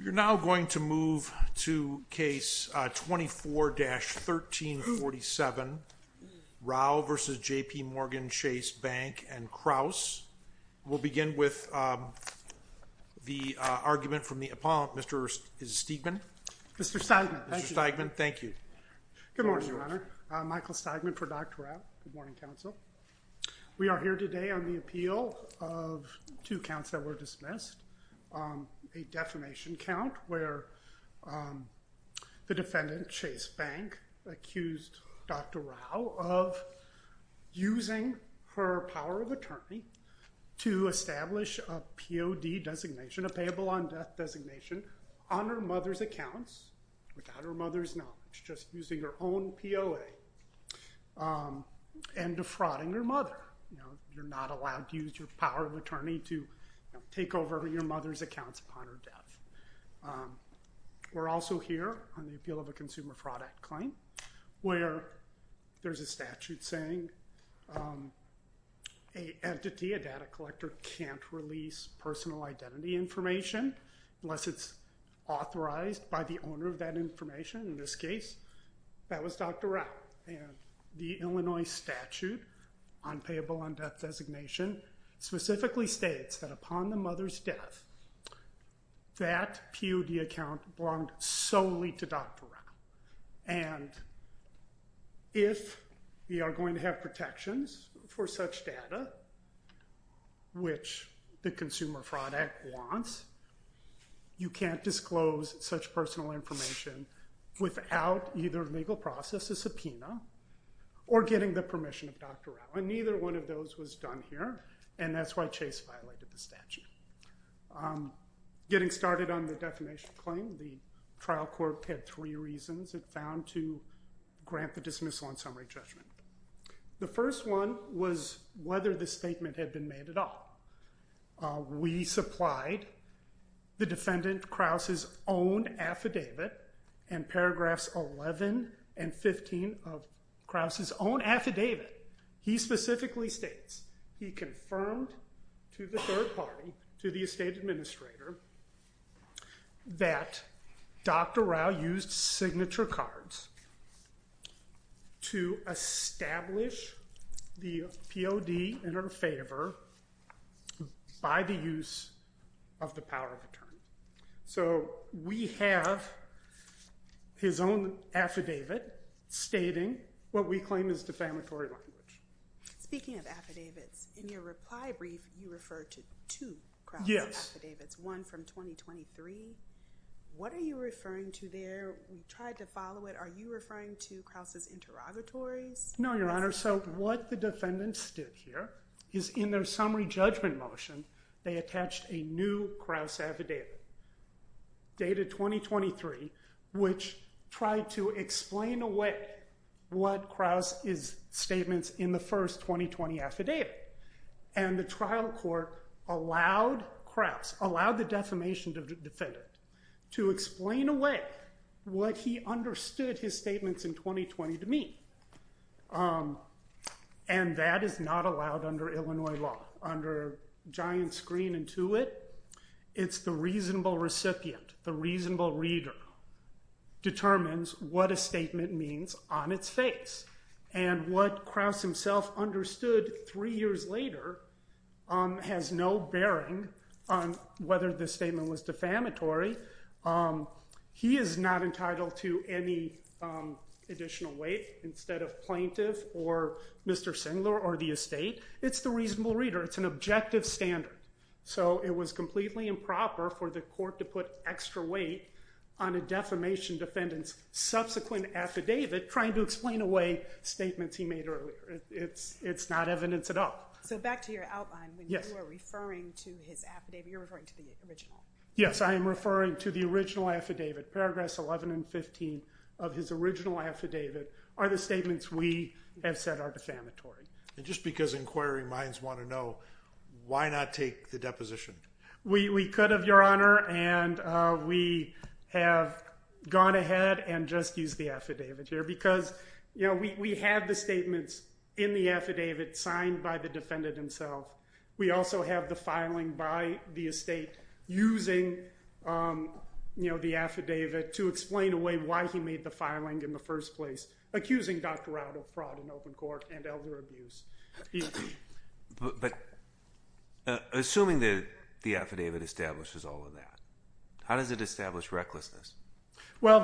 You're now going to move to case 24-1347, Rao v. J.P. Morgan Chase Bank and Kraus. We'll begin with the argument from the opponent, Mr. Stegman. Mr. Stegman. Mr. Stegman. Thank you. Good morning, Your Honor. Michael Stegman for Dr. Rao. Good morning, counsel. We are here today on the appeal of two counts that were dismissed. A defamation count where the defendant, Chase Bank, accused Dr. Rao of using her power of attorney to establish a POD designation, a payable on death designation, on her mother's accounts without her mother's knowledge, just using her own POA, and defrauding her mother. You're not allowed to use your power of attorney to take over your mother's accounts upon her We're also here on the appeal of a consumer fraud act claim where there's a statute saying a entity, a data collector, can't release personal identity information unless it's authorized by the owner of that information. In this case, that was Dr. Rao. The Illinois statute on payable on death designation specifically states that upon the mother's death, that POD account belonged solely to Dr. Rao, and if we are going to have protections for such data, which the consumer fraud act wants, you can't disclose such personal information without either legal process, a subpoena, or getting the permission of Dr. Rao. And neither one of those was done here, and that's why Chase violated the statute. Getting started on the defamation claim, the trial court had three reasons it found to grant the dismissal and summary judgment. The first one was whether the statement had been made at all. We supplied the defendant Krause's own affidavit in paragraphs 11 and 15 of Krause's own affidavit. He specifically states, he confirmed to the third party, to the estate administrator, that Dr. Rao used signature cards to establish the POD in her favor by the use of the power of attorney. So we have his own affidavit stating what we claim is defamatory language. Speaking of affidavits, in your reply brief, you referred to two Krause affidavits. Yes. One from 2023. What are you referring to there? We tried to follow it. Are you referring to Krause's interrogatories? No, Your Honor. So what the defendants did here is in their summary judgment motion, they attached a new Krause affidavit dated 2023, which tried to explain away what Krause's statements in the first 2020 affidavit. And the trial court allowed Krause, allowed the defamation defendant, to explain away what he understood his statements in 2020 to mean. And that is not allowed under Illinois law. Under giant screen and to it, it's the reasonable recipient, the reasonable reader, determines what a statement means on its face. And what Krause himself understood three years later has no bearing on whether the statement was defamatory. He is not entitled to any additional weight instead of plaintiff or Mr. Singler or the estate. It's the reasonable reader. It's an objective standard. So it was completely improper for the court to put extra weight on a defamation defendant's subsequent affidavit trying to explain away statements he made earlier. It's not evidence at all. So back to your outline. When you are referring to his affidavit, you're referring to the original. Yes, I am referring to the original affidavit. Paragraphs 11 and 15 of his original affidavit are the statements we have said are defamatory. And just because inquiry minds want to know, why not take the deposition? We could, Your Honor, and we have gone ahead and just used the affidavit here because, you know, we have the statements in the affidavit signed by the defendant himself. We also have the filing by the estate using, you know, the affidavit to explain away why he made the filing in the first place, accusing Dr. Rao of fraud in open court and elder abuse. But assuming that the affidavit establishes all of that, how does it establish recklessness? Well,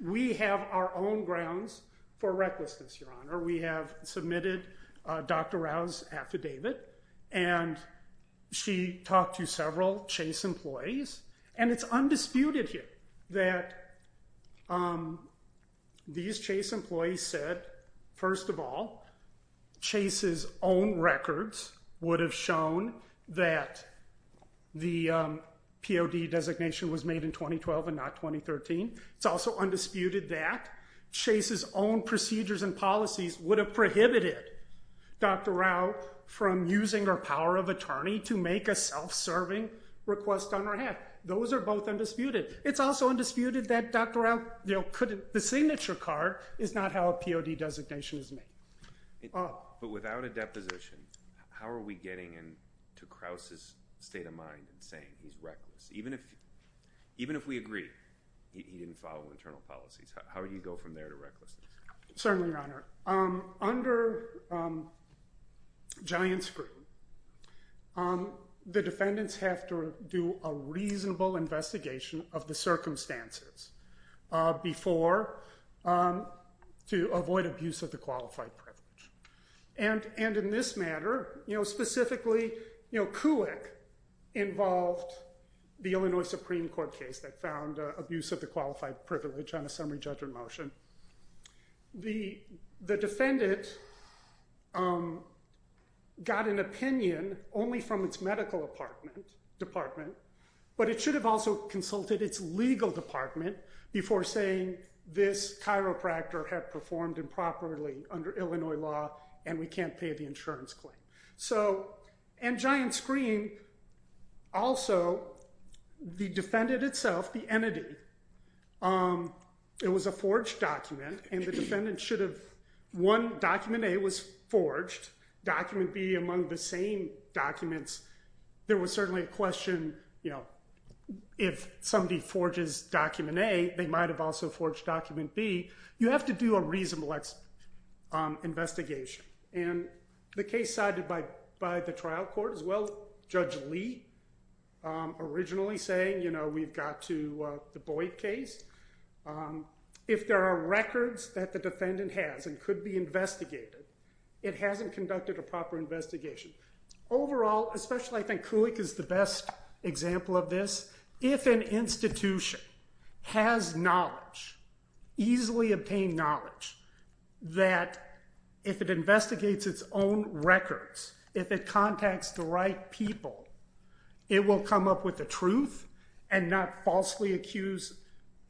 we have our own grounds for recklessness, Your Honor. We have submitted Dr. Rao's affidavit, and she talked to several Chase employees, and it's undisputed here that these Chase employees said, first of all, Chase's own records would have shown that the POD designation was made in 2012 and not 2013. It's also undisputed that Chase's own procedures and policies would have prohibited Dr. Rao from using her power of attorney to make a self-serving request on her behalf. Those are both undisputed. It's also undisputed that Dr. Rao couldn't—the signature card is not how a POD designation is made. But without a deposition, how are we getting into Krauss's state of mind and saying he's reckless? Even if we agree he didn't follow internal policies, how would you go from there to recklessness? Certainly, Your Honor. Under giant scrutiny, the defendants have to do a reasonable investigation of the circumstances before—to avoid abuse of the qualified privilege. And in this matter, you know, specifically, you know, the defendant got an opinion only from its medical department, but it should have also consulted its legal department before saying this chiropractor had performed improperly under Illinois law and we can't pay the insurance claim. So, and giant screen, also, the defendant itself, the entity, it was a forged document and the defendant should have—one, document A was forged, document B among the same documents. There was certainly a question, you know, if somebody forges document A, they might have also forged document B. You have to do a reasonable investigation. And the case sided by the trial court as well. Judge Lee originally saying, you know, we've got to—the Boyd case. If there are records that the defendant has and could be investigated, it hasn't conducted a proper investigation. Overall, especially I think Kulik is the best example of this, if an institution has knowledge, easily obtained knowledge, that if it investigates its own records, if it contacts the right people, it will come up with the truth and not falsely accuse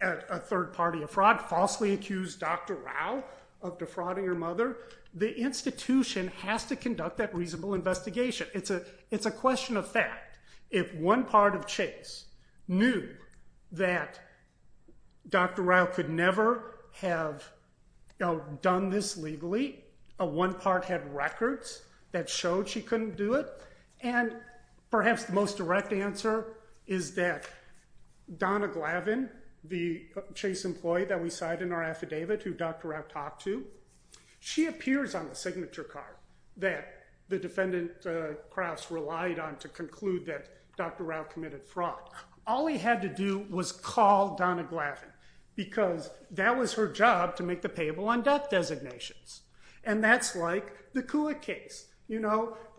a third party of fraud, falsely accuse Dr. Rao of defrauding her mother, the institution has to conduct that reasonable investigation. It's a question of fact. If one part of Chase knew that Dr. Rao could never have done this legally, one part had records that showed she couldn't do it, and perhaps the most direct answer is that Donna Glavin, the Chase employee that we cite in our affidavit who Dr. Rao talked to, she appears on the signature card that the defendant Krauss relied on to conclude that Dr. Rao committed fraud. All he had to do was call Donna Glavin because that was her job to make the payable on death designations. And that's like the Kulik case.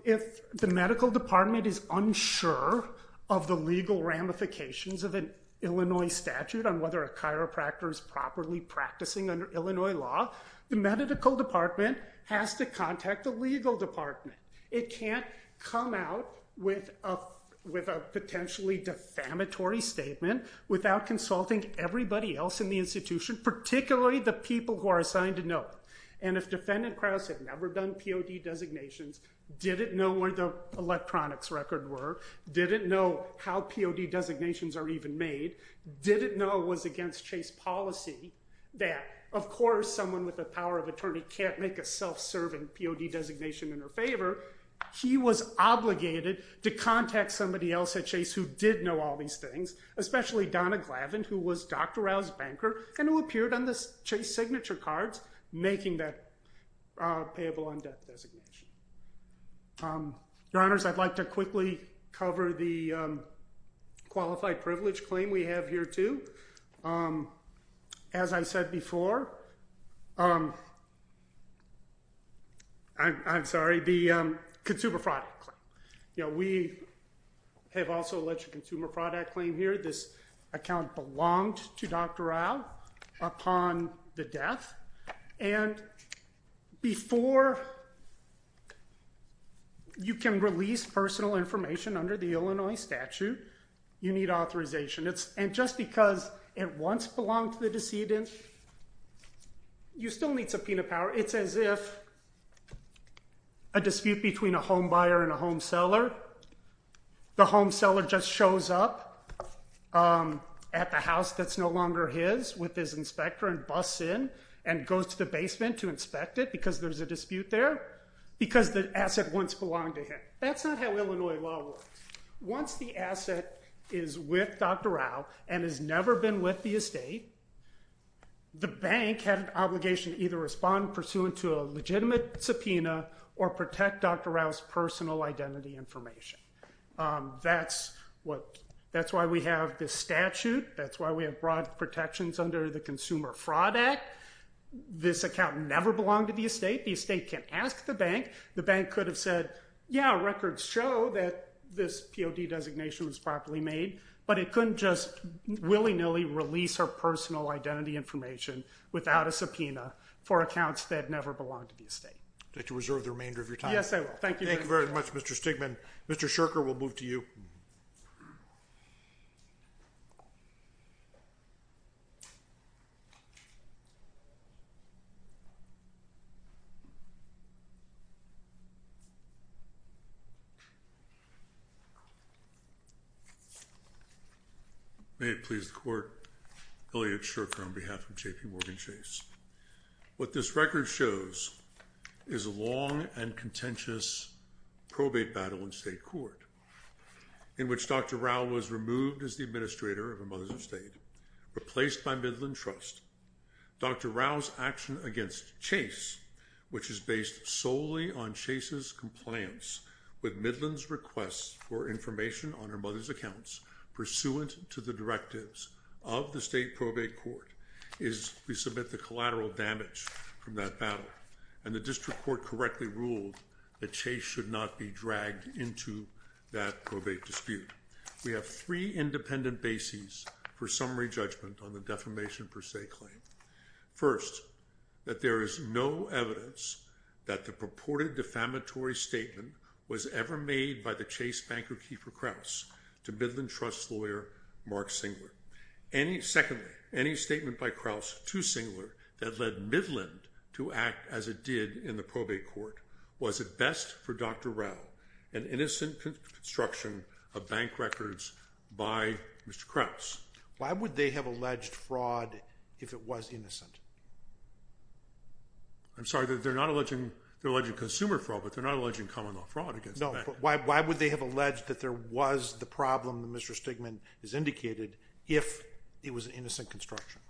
If the medical department is unsure of the legal ramifications of an Illinois statute on whether a chiropractor is properly practicing under Illinois law, the medical department has to contact the legal department. It can't come out with a potentially defamatory statement without consulting everybody else in the institution, particularly the people who are assigned to know it. And if defendant Krauss had never done POD designations, didn't know where the electronics record were, didn't know how POD designations are even made, didn't know it was against Chase policy, that of course someone with the power of attorney can't make a self-serving POD designation in her favor, he was obligated to contact somebody else at Chase who did know all these things, especially Donna Glavin who was Dr. Rao's banker and who appeared on the Chase signature cards making that payable on death designation. Your Honors, I'd like to quickly cover the qualified privilege claim we have here too. As I said before, I'm sorry, the consumer fraud claim. We have also alleged consumer fraud at claim here. This account belonged to Dr. Rao upon the death. And before you can release personal information under the Illinois statute, you need authorization. And just because it once belonged to the decedent, you still need subpoena power. It's as if a dispute between a home buyer and a home seller, the home seller just shows up at the house that's no longer his with his inspector and busts in and goes to the basement to inspect it because there's a dispute there because the asset once belonged to him. That's not how Illinois law works. Once the asset is with Dr. Rao and has never been with the estate, the bank had an obligation to either respond pursuant to a legitimate subpoena or protect Dr. Rao's personal identity information. That's why we have this statute. That's why we have broad protections under the Consumer Fraud Act. This account never belonged to the estate. The estate can ask the bank. The bank could have said, yeah, records show that this POD designation was properly made, but it couldn't just willy-nilly release her personal identity information without a subpoena for accounts that never belonged to the estate. Would you like to reserve the remainder of your time? Yes, I will. Thank you very much. Thank you very much, Mr. Stigman. Mr. Shurker, we'll move to you. May it please the Court, Elliot Shurker on behalf of JPMorgan Chase. What this record shows is a long and contentious probate battle in state court in which Dr. Rao was removed as the administrator of her mother's estate, replaced by Midland Trust. Dr. Rao's action against Chase, which is based solely on Chase's compliance with Midland's request for information on her mother's accounts pursuant to the directives of the state probate court, is we submit the collateral damage from that battle. And the district court correctly ruled that Chase should not be dragged into that probate dispute. We have three independent bases for summary judgment on the defamation per se claim. First, that there is no evidence that the purported defamatory statement was ever made by the Chase banker Kiefer Kraus to Midland Trust lawyer Mark Singler. Secondly, any statement by Kraus to Singler that led Midland to act as it did in the probate court was, at best for Dr. Rao, an innocent construction of bank records by Mr. Kraus. Why would they have alleged fraud if it was innocent? I'm sorry, they're not alleging consumer fraud, but they're not alleging common law fraud against the bank. No, but why would they have alleged that there was the problem that Mr. Stigman has indicated if it was an innocent construction?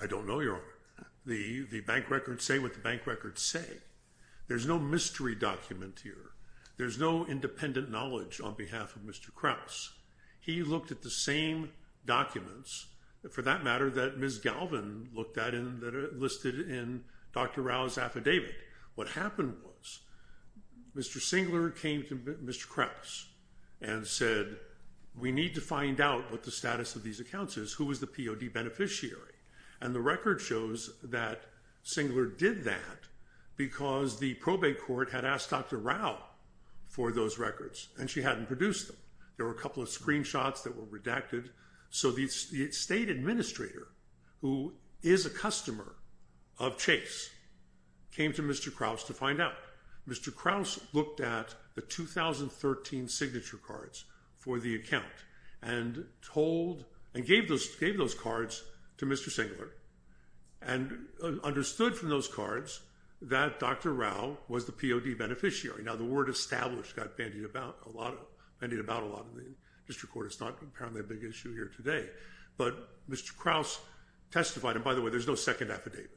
I don't know. The bank records say what the bank records say. There's no mystery document here. There's no independent knowledge on behalf of Mr. Kraus. He looked at the same documents, for that matter, that Ms. Galvin looked at that are listed in Dr. Rao's affidavit. What happened was Mr. Singler came to Mr. Kraus and said, we need to find out what the status of these accounts is. Who was the POD beneficiary? And the record shows that Singler did that because the probate court had asked Dr. Rao for those records and she hadn't produced them. There were a couple of screenshots that were redacted. So the state administrator, who is a customer of Chase, came to Mr. Kraus to find out. Mr. Kraus looked at the 2013 signature cards for the account and told, and gave those cards to Mr. Singler and understood from those cards that Dr. Rao was the POD beneficiary. Now the word established got bandied about a lot in the district court. It's not apparently a big issue here today. But Mr. Kraus testified, and by the way, there's no second affidavit.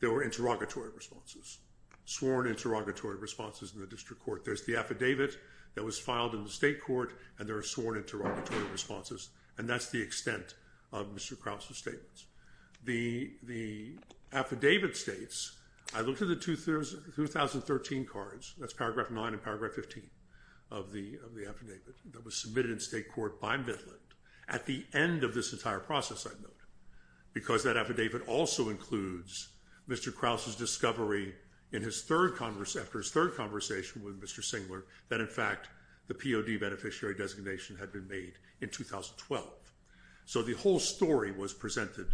There were interrogatory responses, sworn interrogatory responses in the district court. There's the affidavit that was filed in the state court, and there are sworn interrogatory responses. And that's the extent of Mr. Kraus' statements. The affidavit states, I looked at the 2013 cards, that's paragraph 9 and paragraph 15 of the affidavit, that was submitted in state court by Midland. At the end of this entire process, I note, because that affidavit also includes Mr. Kraus' discovery after his third conversation with Mr. Singler that, in fact, the POD beneficiary designation had been made in 2012. So the whole story was presented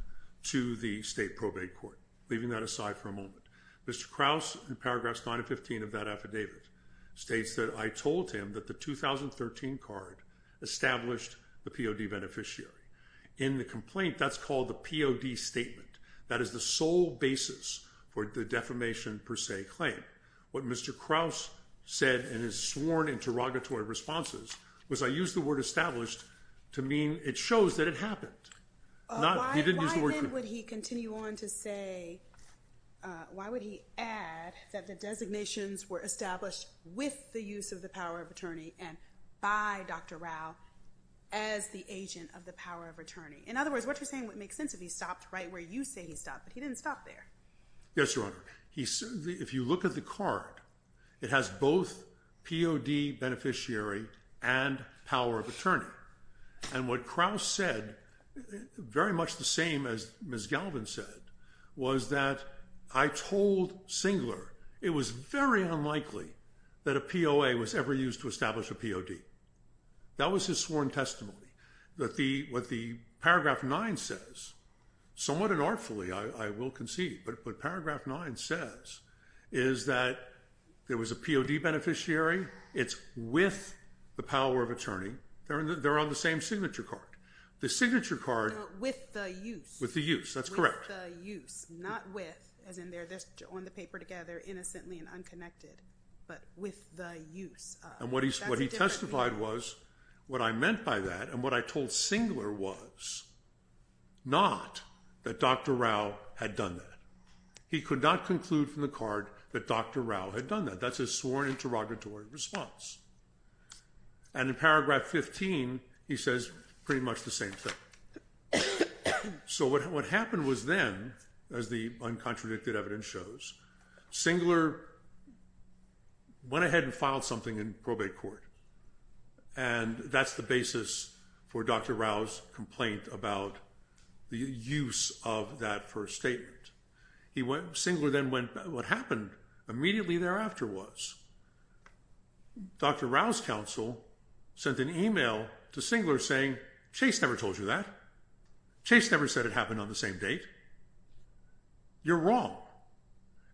to the state probate court. Leaving that aside for a moment, Mr. Kraus, in paragraphs 9 and 15 of that affidavit, states that I told him that the 2013 card established the POD beneficiary. In the complaint, that's called the POD statement. That is the sole basis for the defamation per se claim. What Mr. Kraus said in his sworn interrogatory responses was, I used the word established to mean it shows that it happened. He didn't use the word proven. Why then would he continue on to say, why would he add that the designations were established with the use of the power of attorney and by Dr. Rao as the agent of the power of attorney? In other words, what you're saying would make sense if he stopped right where you say he stopped, but he didn't stop there. Yes, Your Honor. If you look at the card, it has both POD beneficiary and power of attorney. And what Kraus said, very much the same as Ms. Galvin said, was that I told Singler it was very unlikely that a POA was ever used to establish a POD. That was his sworn testimony. What the paragraph 9 says, somewhat unartfully I will concede, but paragraph 9 says is that there was a POD beneficiary. It's with the power of attorney. They're on the same signature card. The signature card. With the use. With the use. That's correct. With the use. Not with, as in they're on the paper together innocently and unconnected, but with the use. And what he testified was what I meant by that and what I told Singler was not that Dr. Rao had done that. He could not conclude from the card that Dr. Rao had done that. That's his sworn interrogatory response. And in paragraph 15 he says pretty much the same thing. So what happened was then, as the uncontradicted evidence shows, Singler went ahead and filed something in probate court. And that's the basis for Dr. Rao's complaint about the use of that first statement. Singler then went, what happened immediately thereafter was Dr. Rao's counsel sent an email to Singler saying, Chase never told you that. Chase never said it happened on the same date. You're wrong.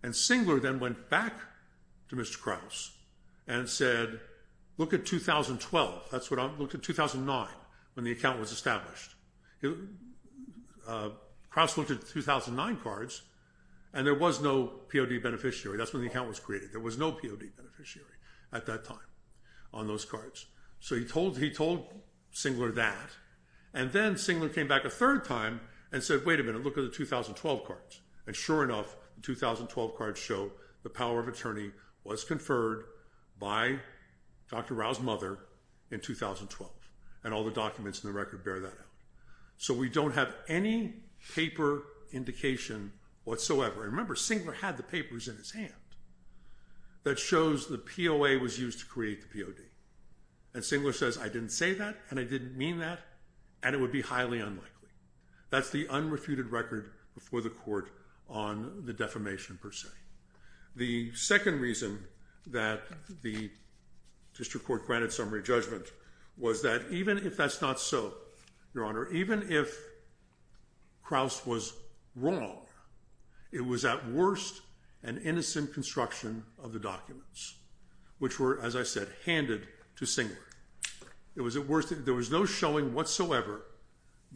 And Singler then went back to Mr. Krause and said, look at 2012. That's what I'm, look at 2009 when the account was established. Krause looked at 2009 cards and there was no POD beneficiary. That's when the account was created. There was no POD beneficiary at that time on those cards. So he told Singler that. And then Singler came back a third time and said, wait a minute, look at the 2012 cards. And sure enough, the 2012 cards show the power of attorney was conferred by Dr. Rao's mother in 2012. And all the documents in the record bear that out. So we don't have any paper indication whatsoever. And remember, Singler had the papers in his hand that shows the POA was used to create the POD. And Singler says, I didn't say that and I didn't mean that. And it would be highly unlikely. That's the unrefuted record before the court on the defamation per se. The second reason that the district court granted summary judgment was that even if that's not so, Your Honor, even if Krause was wrong, it was at worst an innocent construction of the documents, which were, as I said, handed to Singler. There was no showing whatsoever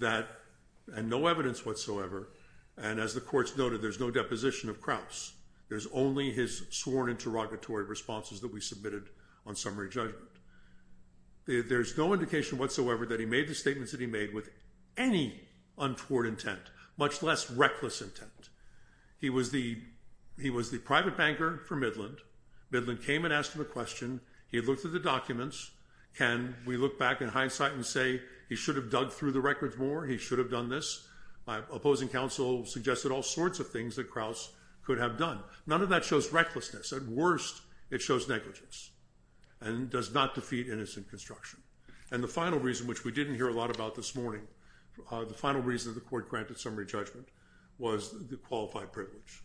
and no evidence whatsoever. And as the courts noted, there's no deposition of Krause. There's only his sworn interrogatory responses that we submitted on summary judgment. There's no indication whatsoever that he made the statements that he made with any untoward intent, much less reckless intent. He was the private banker for Midland. Midland came and asked him a question. He looked at the documents. Can we look back in hindsight and say he should have dug through the records more? He should have done this. Opposing counsel suggested all sorts of things that Krause could have done. None of that shows recklessness. At worst, it shows negligence and does not defeat innocent construction. And the final reason, which we didn't hear a lot about this morning, the final reason the court granted summary judgment was the qualified privilege.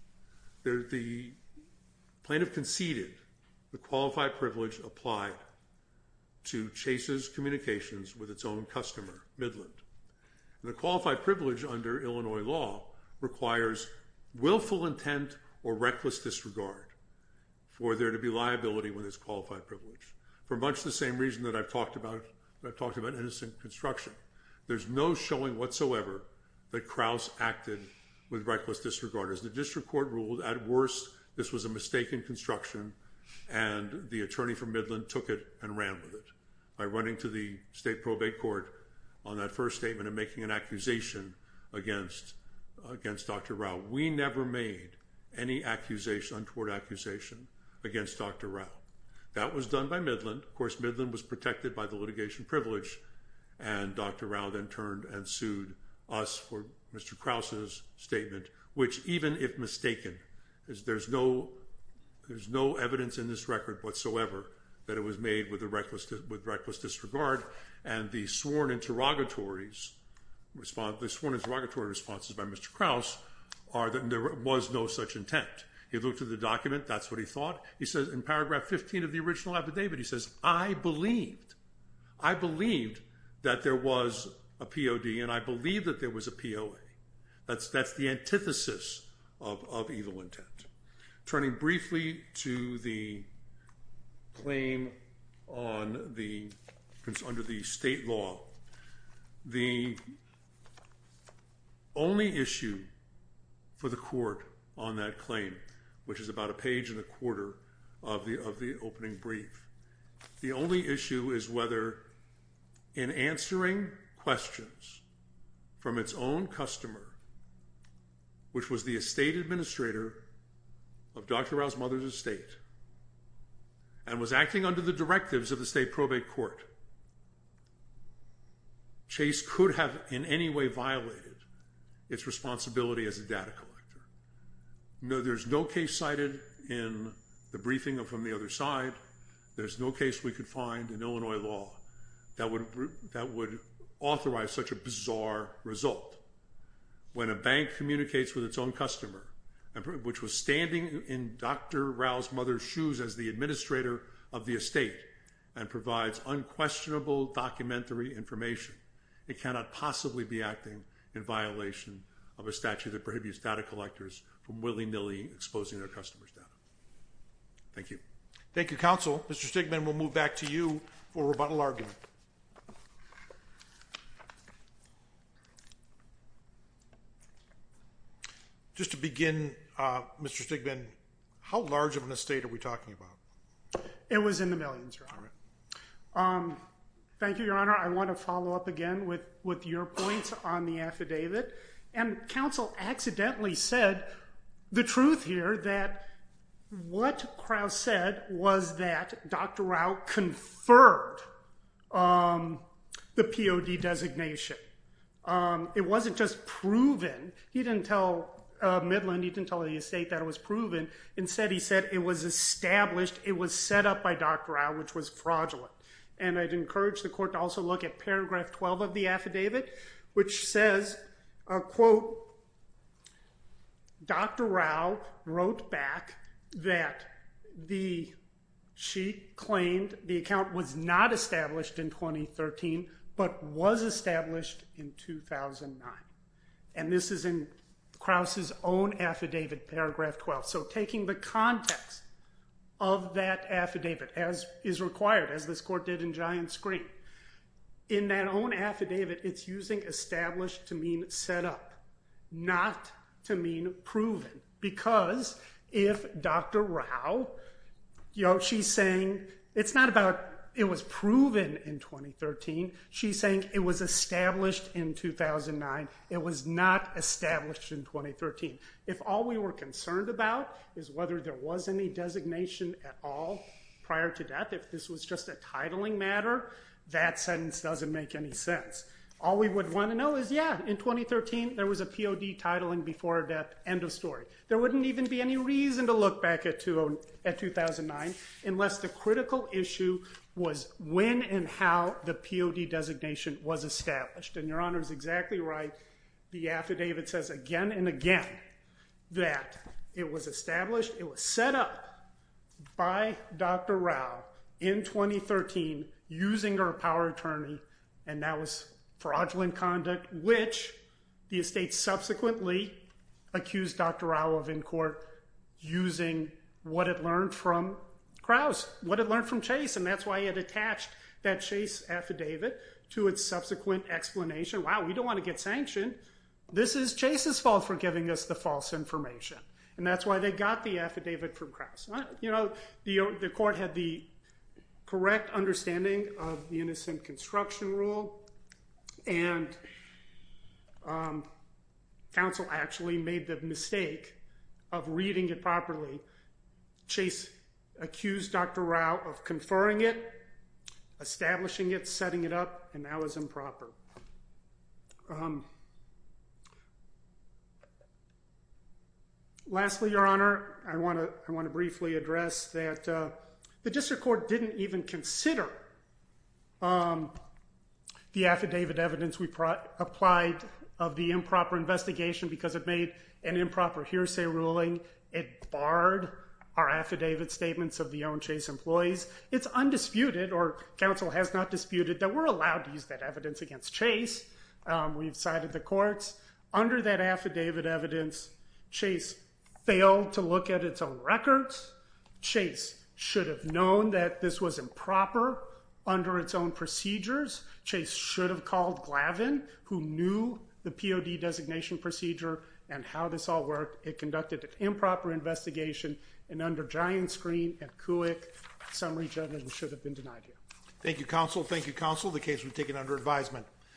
The plaintiff conceded the qualified privilege applied to Chase's communications with its own customer, Midland. The qualified privilege under Illinois law requires willful intent or reckless disregard for there to be liability when there's qualified privilege, for much the same reason that I've talked about innocent construction. There's no showing whatsoever that Krause acted with reckless disregard. As the district court ruled, at worst, this was a mistake in construction, and the attorney for Midland took it and ran with it by running to the state probate court on that first statement and making an accusation against Dr. Rao. We never made any untoward accusation against Dr. Rao. That was done by Midland. Of course, Midland was protected by the litigation privilege, and Dr. Rao then turned and sued us for Mr. Krause's statement, which even if mistaken, there's no evidence in this record whatsoever that it was made with reckless disregard, and the sworn interrogatory responses by Mr. Krause are that there was no such intent. He looked at the document. That's what he thought. He says in paragraph 15 of the original affidavit, he says, I believed that there was a POD, and I believed that there was a POA. That's the antithesis of evil intent. Turning briefly to the claim under the state law, the only issue for the court on that claim, which is about a page and a quarter of the opening brief, the only issue is whether in answering questions from its own customer, which was the estate administrator of Dr. Rao's mother's estate, and was acting under the directives of the state probate court, Chase could have in any way violated its responsibility as a data collector. No, there's no case cited in the briefing from the other side. There's no case we could find in Illinois law that would authorize such a bizarre result. When a bank communicates with its own customer, which was standing in Dr. Rao's mother's shoes as the administrator of the estate, and provides unquestionable documentary information, it cannot possibly be acting in violation of a statute that prohibits data collectors from willy-nilly exposing their customers' data. Thank you. Thank you, counsel. Mr. Stigman, we'll move back to you for rebuttal argument. Just to begin, Mr. Stigman, how large of an estate are we talking about? It was in the millions, Your Honor. Thank you, Your Honor. I want to follow up again with your points on the affidavit. And counsel accidentally said the truth here, that what Krauss said was that Dr. Rao conferred the POD designation. It wasn't just proven. He didn't tell Midland, he didn't tell the estate that it was proven. Instead, he said it was established, it was set up by Dr. Rao, which was fraudulent. And I'd encourage the court to also look at Paragraph 12 of the affidavit, which says, quote, Dr. Rao wrote back that she claimed the account was not established in 2013, but was established in 2009. And this is in Krauss's own affidavit, Paragraph 12. So taking the context of that affidavit as is required, as this court did in Giant Screen, in that own affidavit, it's using established to mean set up, not to mean proven. Because if Dr. Rao, you know, she's saying it's not about it was proven in 2013, she's saying it was established in 2009, it was not established in 2013. If all we were concerned about is whether there was any designation at all prior to death, if this was just a titling matter, that sentence doesn't make any sense. All we would want to know is, yeah, in 2013 there was a POD titling before death, end of story. There wouldn't even be any reason to look back at 2009 unless the critical issue was when and how the POD designation was established. And Your Honor is exactly right. The affidavit says again and again that it was established, it was set up by Dr. Rao in 2013 using her power of attorney, and that was fraudulent conduct, which the estate subsequently accused Dr. Rao of in court using what it learned from Krauss, what it learned from Chase, and that's why it attached that Chase affidavit to its subsequent explanation. Wow, we don't want to get sanctioned. This is Chase's fault for giving us the false information, and that's why they got the affidavit from Krauss. The court had the correct understanding of the innocent construction rule, and counsel actually made the mistake of reading it properly. Chase accused Dr. Rao of conferring it, establishing it, setting it up, and that was improper. Lastly, Your Honor, I want to briefly address that the district court didn't even consider the affidavit evidence we applied of the improper investigation because it made an improper hearsay ruling. It barred our affidavit statements of the owned Chase employees. It's undisputed, or counsel has not disputed, that we're allowed to use that evidence against Chase. We've cited the courts. Under that affidavit evidence, Chase failed to look at its own records. Chase should have known that this was improper under its own procedures. Chase should have called Glavin, who knew the POD designation procedure and how this all worked. It conducted an improper investigation, and under giant screen and CUIC, summary judgment should have been denied here. Thank you, counsel. Thank you, counsel. The case will be taken under advisement.